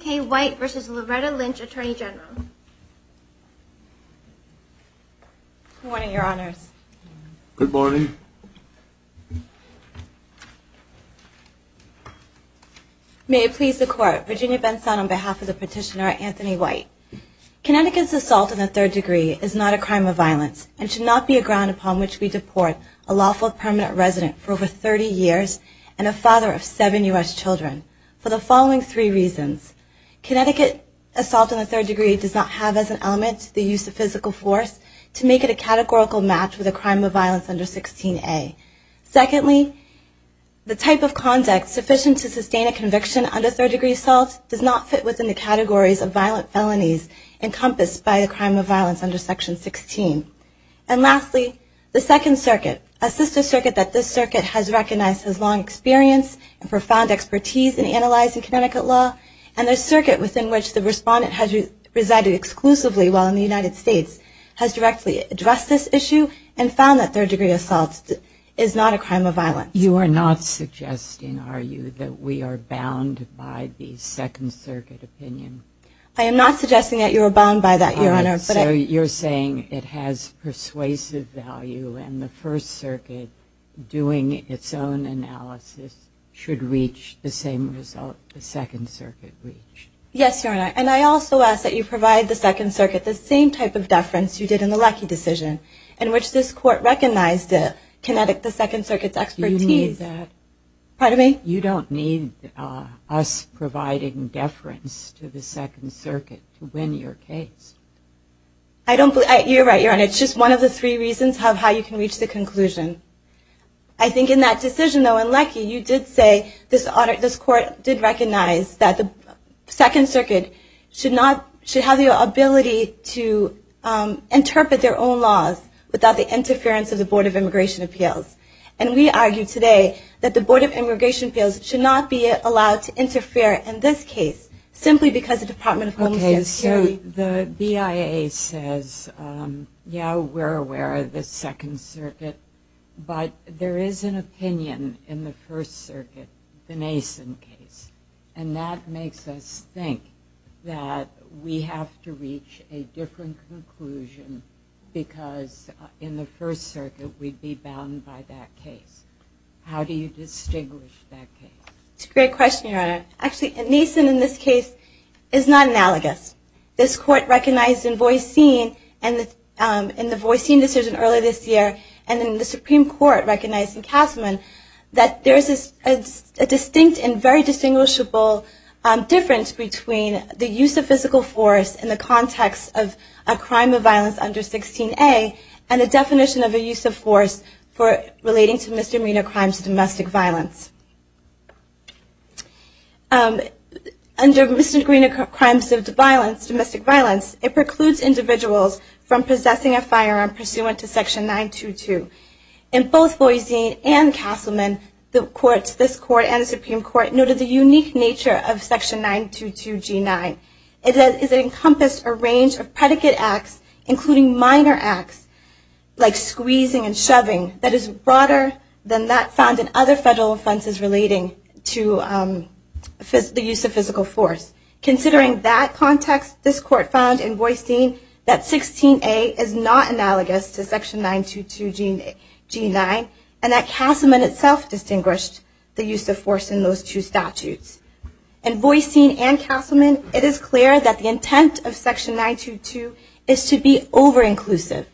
K. White v. Loretta Lynch, Attorney General Good morning, Your Honors. Good morning. May it please the Court, Virginia Benson on behalf of the petitioner, Anthony White. Connecticut's assault in the third degree is not a crime of violence and should not be a ground upon which we deport a lawful permanent resident for over 30 years and a father of seven U.S. children for the following three reasons. Connecticut assault in the third degree does not have as an element the use of physical force to make it a categorical match with a crime of violence under Section 16A. Secondly, the type of conduct sufficient to sustain a conviction under third degree assault does not fit within the categories of violent felonies encompassed by a crime of violence under Section 16. And lastly, the Second Circuit, a sister circuit that this circuit has recognized has long experience and profound expertise in analyzing Connecticut law and the circuit within which the respondent has resided exclusively while in the United States has directly addressed this issue and found that third degree assault is not a crime of violence. You are not suggesting, are you, that we are bound by the Second Circuit opinion? I am not suggesting that you are bound by that, Your Honor. So you're saying it has persuasive value and the First Circuit doing its own analysis should reach the same result the Second Circuit reached? Yes, Your Honor, and I also ask that you provide the Second Circuit the same type of deference you did in the Lackey decision in which this court recognized the Second Circuit's expertise. Do you need that? Pardon me? You don't need us providing deference to the Second Circuit to win your case. You're right, Your Honor. It's just one of the three reasons of how you can reach the conclusion. I think in that decision, though, in Lackey, you did say this court did recognize that the Second Circuit should have the ability to interpret their own laws without the interference of the Board of Immigration Appeals. And we argue today that the Board of Immigration Appeals should not be allowed to interfere in this case simply because the Department of Homeland Security... Okay, so the BIA says, yeah, we're aware of the Second Circuit, but there is an opinion in the First Circuit, the Mason case, and that makes us think that we have to reach a different conclusion because in the First Circuit we'd be bound by that case. How do you distinguish that case? It's a great question, Your Honor. Actually, Mason in this case is not analogous. This court recognized in Voisin, in the Voisin decision earlier this year, and in the Supreme Court recognizing Kassaman, that there is a distinct and very distinguishable difference between the use of physical force in the context of a crime of violence under 16A and a definition of a use of force relating to misdemeanor crimes of domestic violence. Under misdemeanor crimes of domestic violence, it precludes individuals from possessing a firearm pursuant to Section 922. In both Voisin and Kassaman, this court and the Supreme Court noted the unique nature of Section 922G9. It encompassed a range of predicate acts, including minor acts like squeezing and shoving, that is broader than that found in other federal offenses relating to the use of physical force. Considering that context, this court found in Voisin that 16A is not analogous to Section 922G9 and that Kassaman itself distinguished the use of force in those two statutes. In Voisin and Kassaman, it is clear that the intent of Section 922 is to be over-inclusive,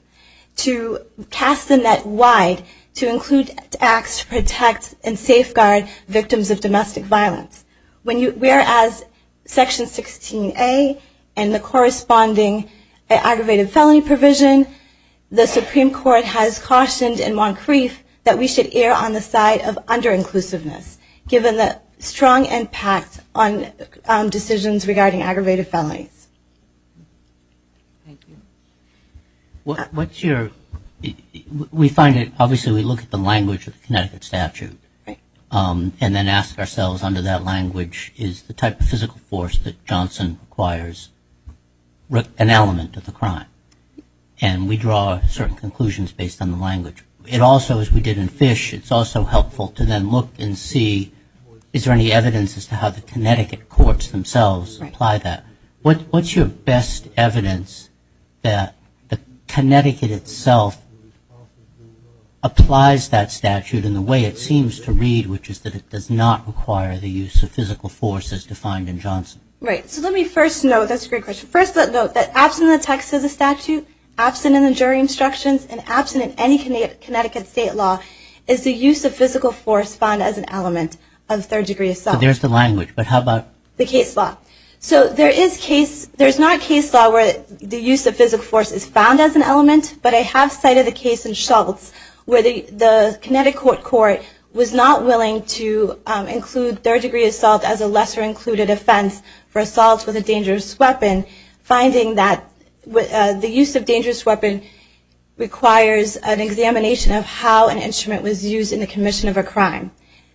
to cast the net wide, to include acts to protect and safeguard victims of domestic violence. Whereas Section 16A and the corresponding aggravated felony provision, the Supreme Court has cautioned in Moncrief that we should err on the side of under-inclusiveness, given the strong impact on decisions regarding aggravated felonies. Thank you. What's your, we find it, obviously we look at the language of the Connecticut statute, and then ask ourselves under that language, is the type of physical force that Johnson requires an element of the crime? And we draw certain conclusions based on the language. It also, as we did in Fish, it's also helpful to then look and see, is there any evidence as to how the Connecticut courts themselves apply that? What's your best evidence that Connecticut itself applies that statute in the way it seems to read, which is that it does not require the use of physical force as defined in Johnson? Right. So let me first note, that's a great question. The reason that the Connecticut statute, absent in the jury instructions and absent in any Connecticut state law, is the use of physical force found as an element of third degree assault. So there's the language, but how about? The case law. So there is case, there's not a case law where the use of physical force is found as an element, but I have cited a case in Schultz, where the Connecticut court was not willing to include third degree assault as a lesser included offense for assault with a dangerous weapon, finding that the use of dangerous weapon requires an examination of how an instrument was used in the commission of a crime.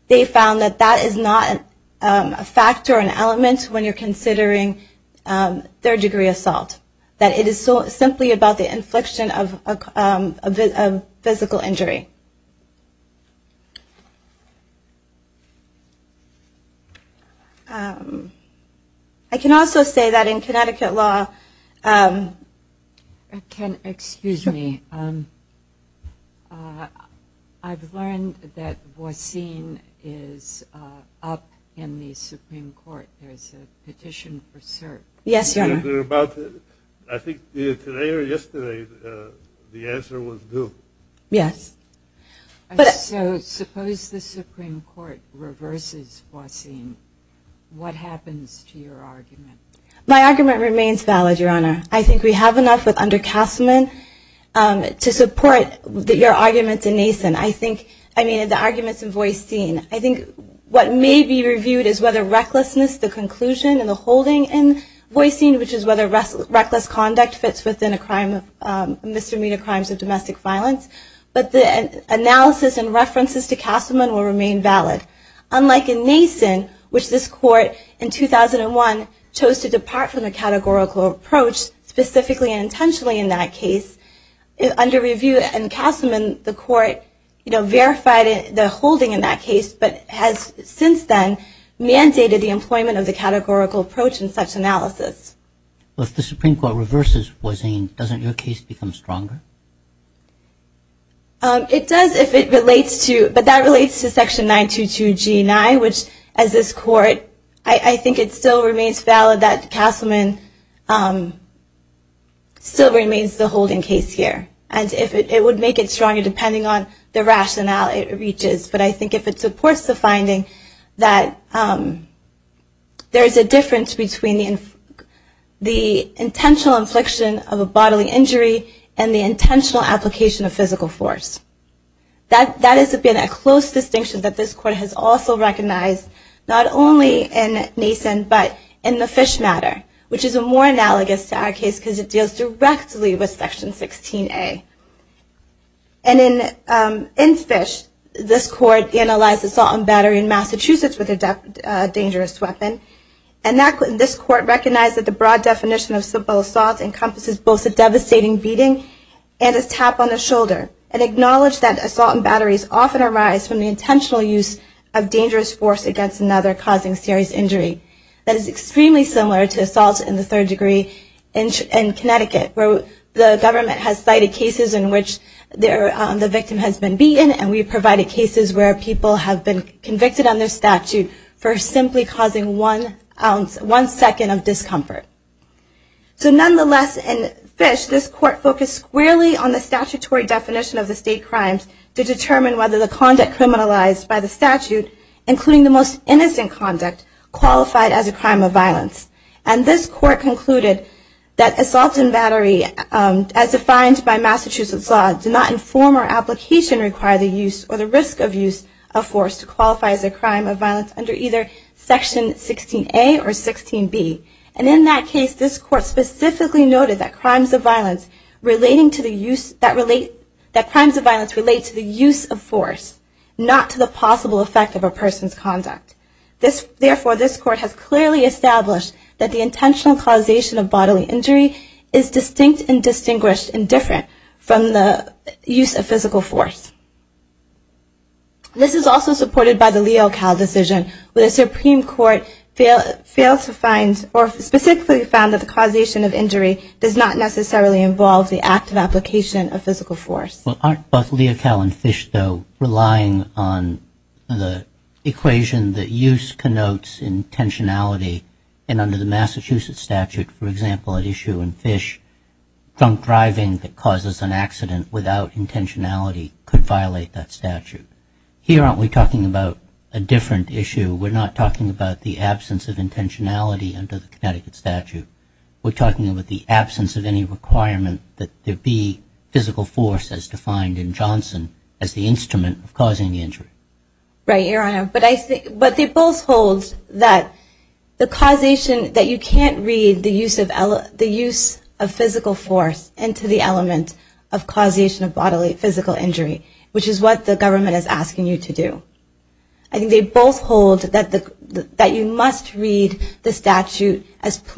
They found that that is not a factor or an element when you're considering third degree assault, that it is simply about the infliction of physical injury. I can also say that in Connecticut law. Excuse me. I've learned that Voisin is up in the Supreme Court. Yes, Your Honor. I think today or yesterday the answer was no. Yes. So suppose the Supreme Court reverses Voisin, what happens to your argument? My argument remains valid, Your Honor. I think we have enough with under Castelman to support your arguments in Mason. I think, I mean, the arguments in Voisin, I think what may be reviewed is whether recklessness, the conclusion, and the holding in Voisin, which is whether reckless conduct fits within a crime of misdemeanor crimes of domestic violence. But the analysis and references to Castelman will remain valid. Unlike in Mason, which this court in 2001 chose to depart from the categorical approach, specifically and intentionally in that case, under review in Castelman, the court verified the holding in that case, but has since then mandated the employment of the categorical approach in such analysis. Well, if the Supreme Court reverses Voisin, doesn't your case become stronger? It does if it relates to, but that relates to Section 922G9, which as this court I think it still remains valid that Castelman still remains the holding case here. And it would make it stronger depending on the rationale it reaches. But I think if it supports the finding that there is a difference between the intentional infliction of a bodily injury and the intentional application of physical force. That has been a close distinction that this court has also recognized, not only in Mason, but in the Fish matter, which is more analogous to our case because it deals directly with Section 16A. And in Fish, this court analyzed assault and battery in Massachusetts with a dangerous weapon. And this court recognized that the broad definition of simple assault encompasses both a devastating beating and a tap on the shoulder, and acknowledged that assault and batteries often arise from the intentional use of dangerous force against another causing serious injury. That is extremely similar to assault in the third degree in Connecticut, where the government has cited cases in which the victim has been beaten and we've provided cases where people have been convicted under statute for simply causing one second of discomfort. So nonetheless, in Fish, this court focused squarely on the statutory definition of the state crimes to determine whether the conduct criminalized by the statute, including the most innocent conduct, qualified as a crime of violence. And this court concluded that assault and battery, as defined by Massachusetts law, do not inform or application require the use or the risk of use of force to qualify as a crime of violence under either Section 16A or 16B. And in that case, this court specifically noted that crimes of violence relate to the use of force, not to the possible effect of a person's conduct. Therefore, this court has clearly established that the intentional causation of bodily injury is distinct and distinguished and different from the use of physical force. This is also supported by the Leocal decision, where the Supreme Court failed to find or specifically found that the causation of injury does not necessarily involve the active application of physical force. Well, aren't both Leocal and Fish, though, relying on the equation that use connotes intentionality? And under the Massachusetts statute, for example, at issue in Fish, drunk driving that causes an accident without intentionality could violate that statute. Here, aren't we talking about a different issue? We're not talking about the absence of intentionality under the Connecticut statute. We're talking about the absence of any requirement that there be physical force as defined in Johnson as the instrument of causing the injury. Right, Your Honor. But they both hold that the causation that you can't read the use of physical force into the element of causation of bodily physical injury, which is what the government is asking you to do. I think they both hold that you must read the statute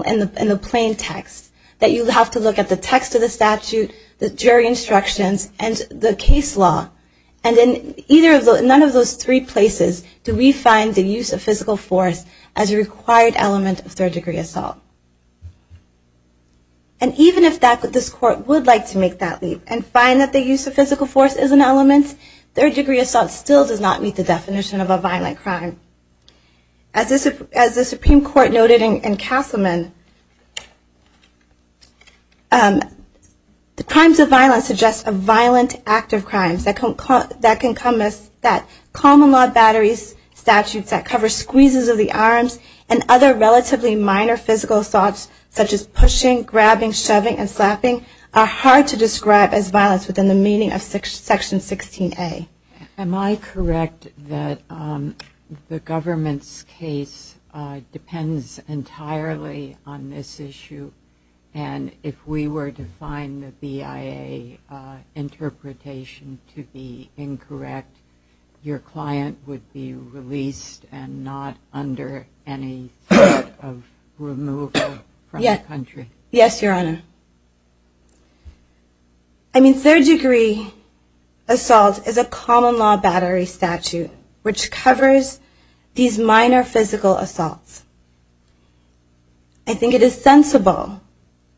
in the plain text, that you have to look at the text of the statute, the jury instructions, and the case law. And in none of those three places do we find the use of physical force as a required element of third-degree assault. And even if this Court would like to make that leap third-degree assault still does not meet the definition of a violent crime. As the Supreme Court noted in Castleman, the crimes of violence suggest a violent act of crimes that can come as that. Common law batteries, statutes that cover squeezes of the arms, and other relatively minor physical assaults such as pushing, grabbing, shoving, and slapping are hard to describe as violence within the meaning of Section 16A. Am I correct that the government's case depends entirely on this issue? And if we were to find the BIA interpretation to be incorrect, your client would be released and not under any threat of removal from the country? Yes, Your Honor. I mean, third-degree assault is a common law battery statute, which covers these minor physical assaults. I think it is sensible,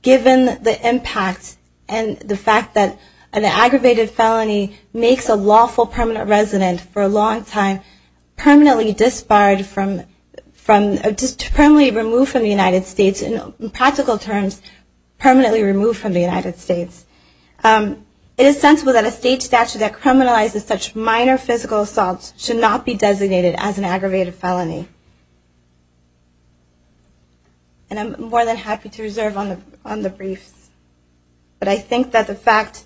given the impact and the fact that an aggravated felony makes a lawful permanent resident for a long time permanently removed from the United States, in practical terms, permanently removed from the United States, it is sensible that a state statute that criminalizes such minor physical assaults should not be designated as an aggravated felony. And I'm more than happy to reserve on the briefs, but I think that the fact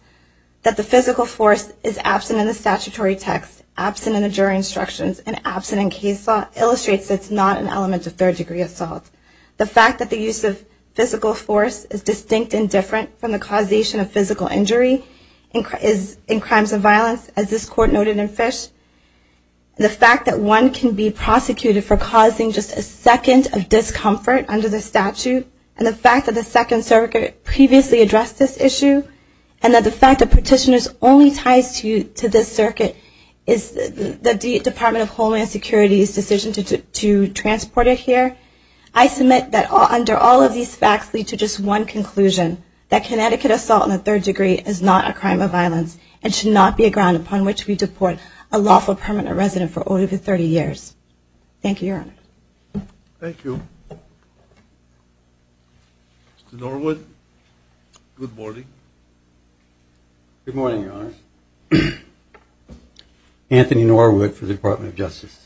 that the physical force is absent in the statutory text, absent in the jury instructions, and absent in case law, illustrates that it's not an element of third-degree assault. The fact that the use of physical force is distinct and different from the causation of physical injury in crimes of violence, as this Court noted in Fish, the fact that one can be prosecuted for causing just a second of discomfort under the statute, and the fact that the Second Circuit previously addressed this issue, and that the fact that Petitioners only ties to this Circuit is the Department of Homeland Security's decision to transport it here, I submit that under all of these facts lead to just one conclusion, that Connecticut assault in the third degree is not a crime of violence and should not be a ground upon which we deport a lawful permanent resident for over 30 years. Thank you, Your Honor. Thank you. Mr. Norwood, good morning. Good morning, Your Honor. Anthony Norwood for the Department of Justice.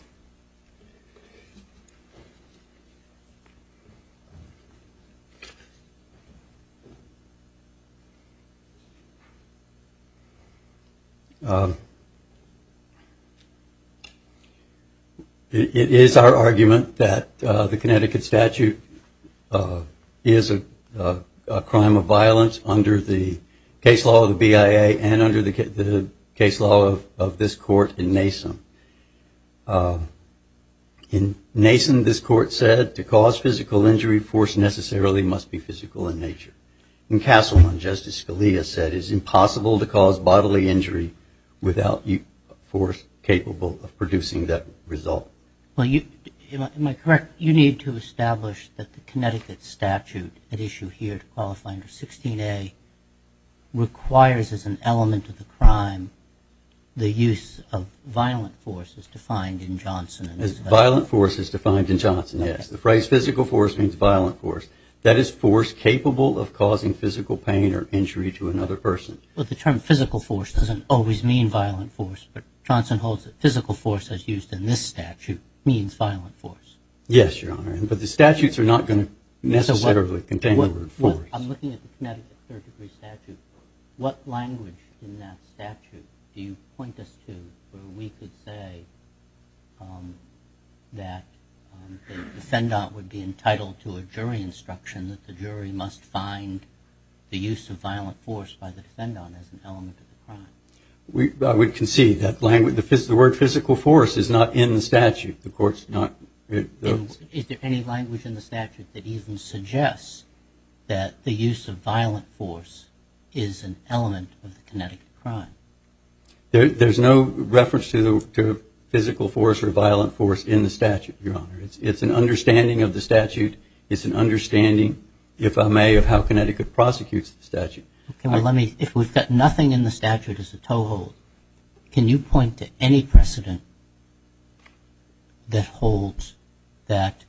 It is our argument that the Connecticut statute is a crime of violence under the case law of the BIA and under the case law of this Court in Mason. In Mason, this Court said to cause physical injury, force necessarily must be physical in nature. In Castleman, Justice Scalia said it is impossible to cause bodily injury without force capable of producing that result. Am I correct? You need to establish that the Connecticut statute at issue here to qualify under 16A requires as an element of the crime the use of violent force as defined in Johnson. As violent force is defined in Johnson, yes. The phrase physical force means violent force. That is force capable of causing physical pain or injury to another person. Well, the term physical force doesn't always mean violent force, but Johnson holds that physical force as used in this statute means violent force. Yes, Your Honor, but the statutes are not going to necessarily contain the word force. I'm looking at the Connecticut third-degree statute. What language in that statute do you point us to where we could say that the defendant would be entitled to a jury instruction that the jury must find the use of violent force by the defendant as an element of the crime? We can see that the word physical force is not in the statute. Is there any language in the statute that even suggests that the use of violent force is an element of the Connecticut crime? There's no reference to physical force or violent force in the statute, Your Honor. It's an understanding of the statute. It's an understanding, if I may, of how Connecticut prosecutes the statute. If we've got nothing in the statute as a toehold, can you point to any precedent that holds that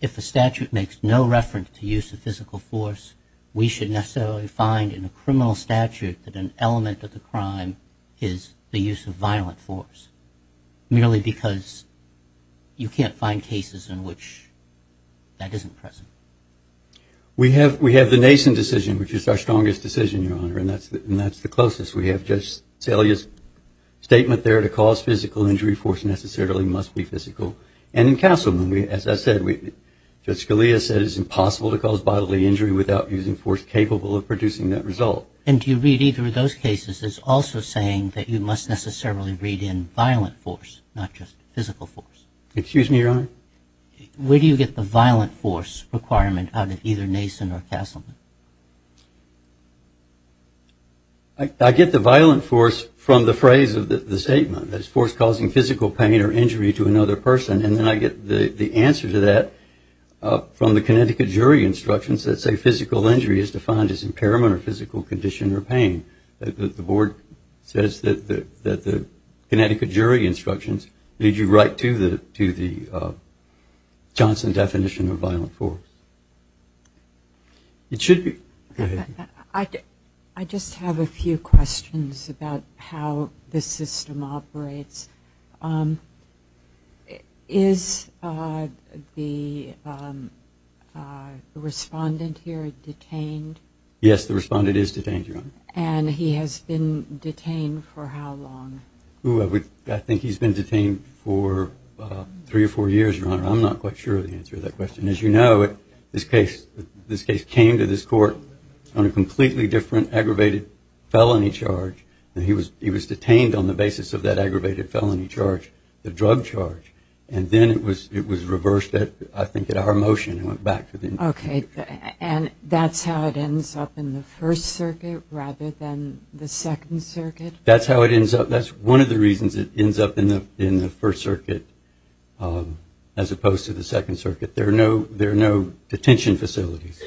if the statute makes no reference to use of physical force, we should necessarily find in a criminal statute that an element of the crime is the use of violent force, merely because you can't find cases in which that isn't present? We have the Nason decision, which is our strongest decision, Your Honor, and that's the closest. We have Judge Scalia's statement there. To cause physical injury, force necessarily must be physical. And in Castleman, as I said, Judge Scalia said it's impossible to cause bodily injury without using force capable of producing that result. And do you read either of those cases as also saying that you must necessarily read in violent force, not just physical force? Excuse me, Your Honor? Where do you get the violent force requirement out of either Nason or Castleman? I get the violent force from the phrase of the statement, that it's force causing physical pain or injury to another person. And then I get the answer to that from the Connecticut jury instructions that say physical injury is defined as impairment or physical condition or pain. The board says that the Connecticut jury instructions lead you right to the Johnson definition of violent force. I just have a few questions about how the system operates. Is the respondent here detained? Yes, the respondent is detained, Your Honor. And he has been detained for how long? I think he's been detained for three or four years, Your Honor. I'm not quite sure of the answer to that question. As you know, this case came to this court on a completely different aggravated felony charge. He was detained on the basis of that aggravated felony charge, the drug charge. And then it was reversed, I think, at our motion and went back to the... OK. And that's how it ends up in the First Circuit rather than the Second Circuit? That's how it ends up. That's one of the reasons it ends up in the First Circuit as opposed to the Second Circuit. There are no detention facilities.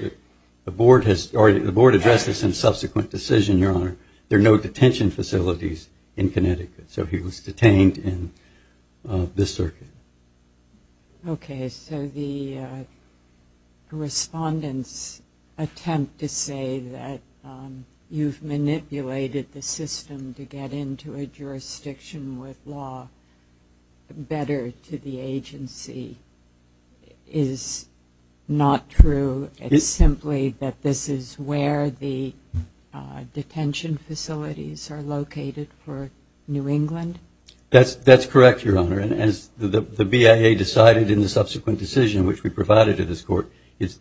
The board addressed this in a subsequent decision, Your Honor. There are no detention facilities in Connecticut. So he was detained in this circuit. OK. So the respondent's attempt to say that you've manipulated the system to get into a jurisdiction with law better to the agency is not true. It's simply that this is where the detention facilities are located for New England? That's correct, Your Honor. And as the BIA decided in the subsequent decision which we provided to this court,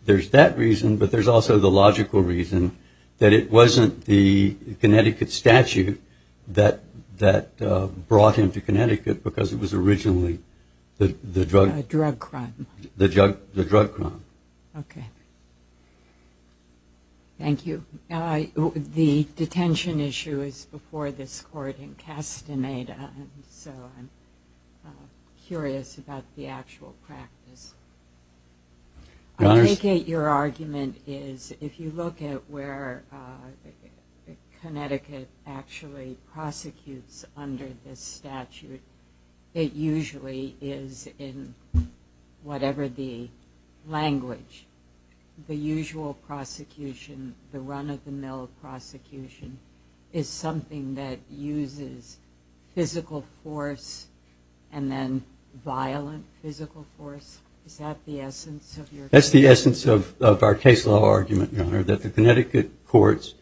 there's that reason but there's also the logical reason that it wasn't the Connecticut statute that brought him to Connecticut because it was originally the drug... The drug crime. The drug crime. OK. Thank you. The detention issue is before this court in Castaneda, so I'm curious about the actual practice. I take it your argument is if you look at where Connecticut actually prosecutes under this statute, it usually is in whatever the language. The usual prosecution, the run-of-the-mill prosecution is something that uses physical force and then violent physical force. Is that the essence of your... That's the essence of our case law argument, Your Honor, that the Connecticut courts...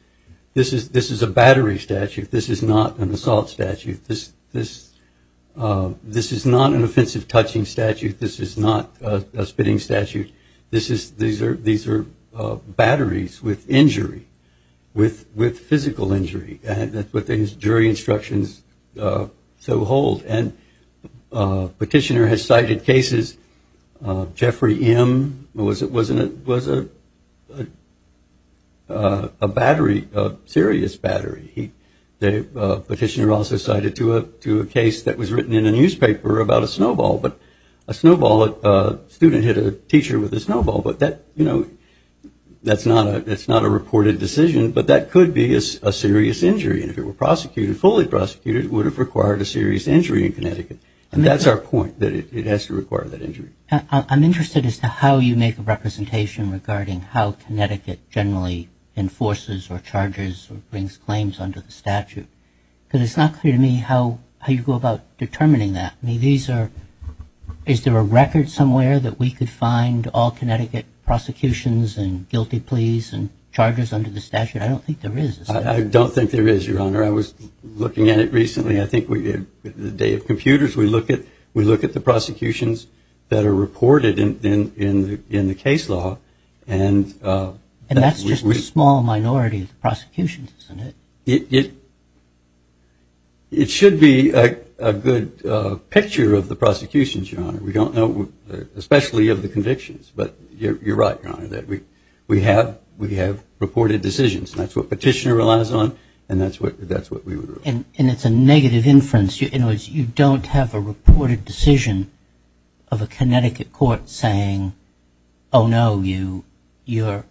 This is a battery statute. This is not an assault statute. This is not an offensive touching statute. This is not a spitting statute. These are batteries with injury, with physical injury. That's what the jury instructions so hold. And Petitioner has cited cases, Jeffrey M. was a battery, a serious battery. Petitioner also cited to a case that was written in a newspaper about a snowball, a student hit a teacher with a snowball, but that's not a reported decision, but that could be a serious injury. And if it were prosecuted, fully prosecuted, it would have required a serious injury in Connecticut. And that's our point, that it has to require that injury. I'm interested as to how you make a representation regarding how Connecticut generally enforces or charges or brings claims under the statute. Because it's not clear to me how you go about determining that. Is there a record somewhere that we could find all Connecticut prosecutions and guilty pleas and charges under the statute? I don't think there is. I don't think there is, Your Honor. I was looking at it recently. I think the day of computers we look at the prosecutions that are reported in the case law. And that's just a small minority of the prosecutions, isn't it? It should be a good picture of the prosecutions, Your Honor. We don't know, especially of the convictions. But you're right, Your Honor, that we have reported decisions. And that's what petitioner relies on and that's what we would rule. And it's a negative inference. In other words, you don't have a reported decision of a Connecticut court saying, oh, no, you're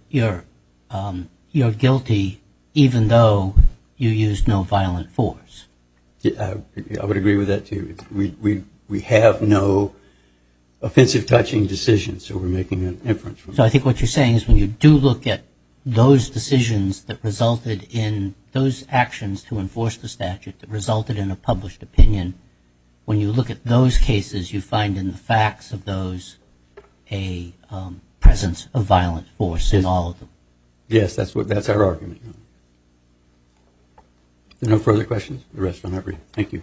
guilty even though you used no violent force. I would agree with that, too. We have no offensive-touching decisions. So we're making an inference. So I think what you're saying is when you do look at those decisions that resulted in those actions to enforce the statute that resulted in a published opinion, when you look at those cases, you find in the facts of those a presence of violent force in all of them. Yes, that's our argument, Your Honor. No further questions? The rest are not for you. Thank you.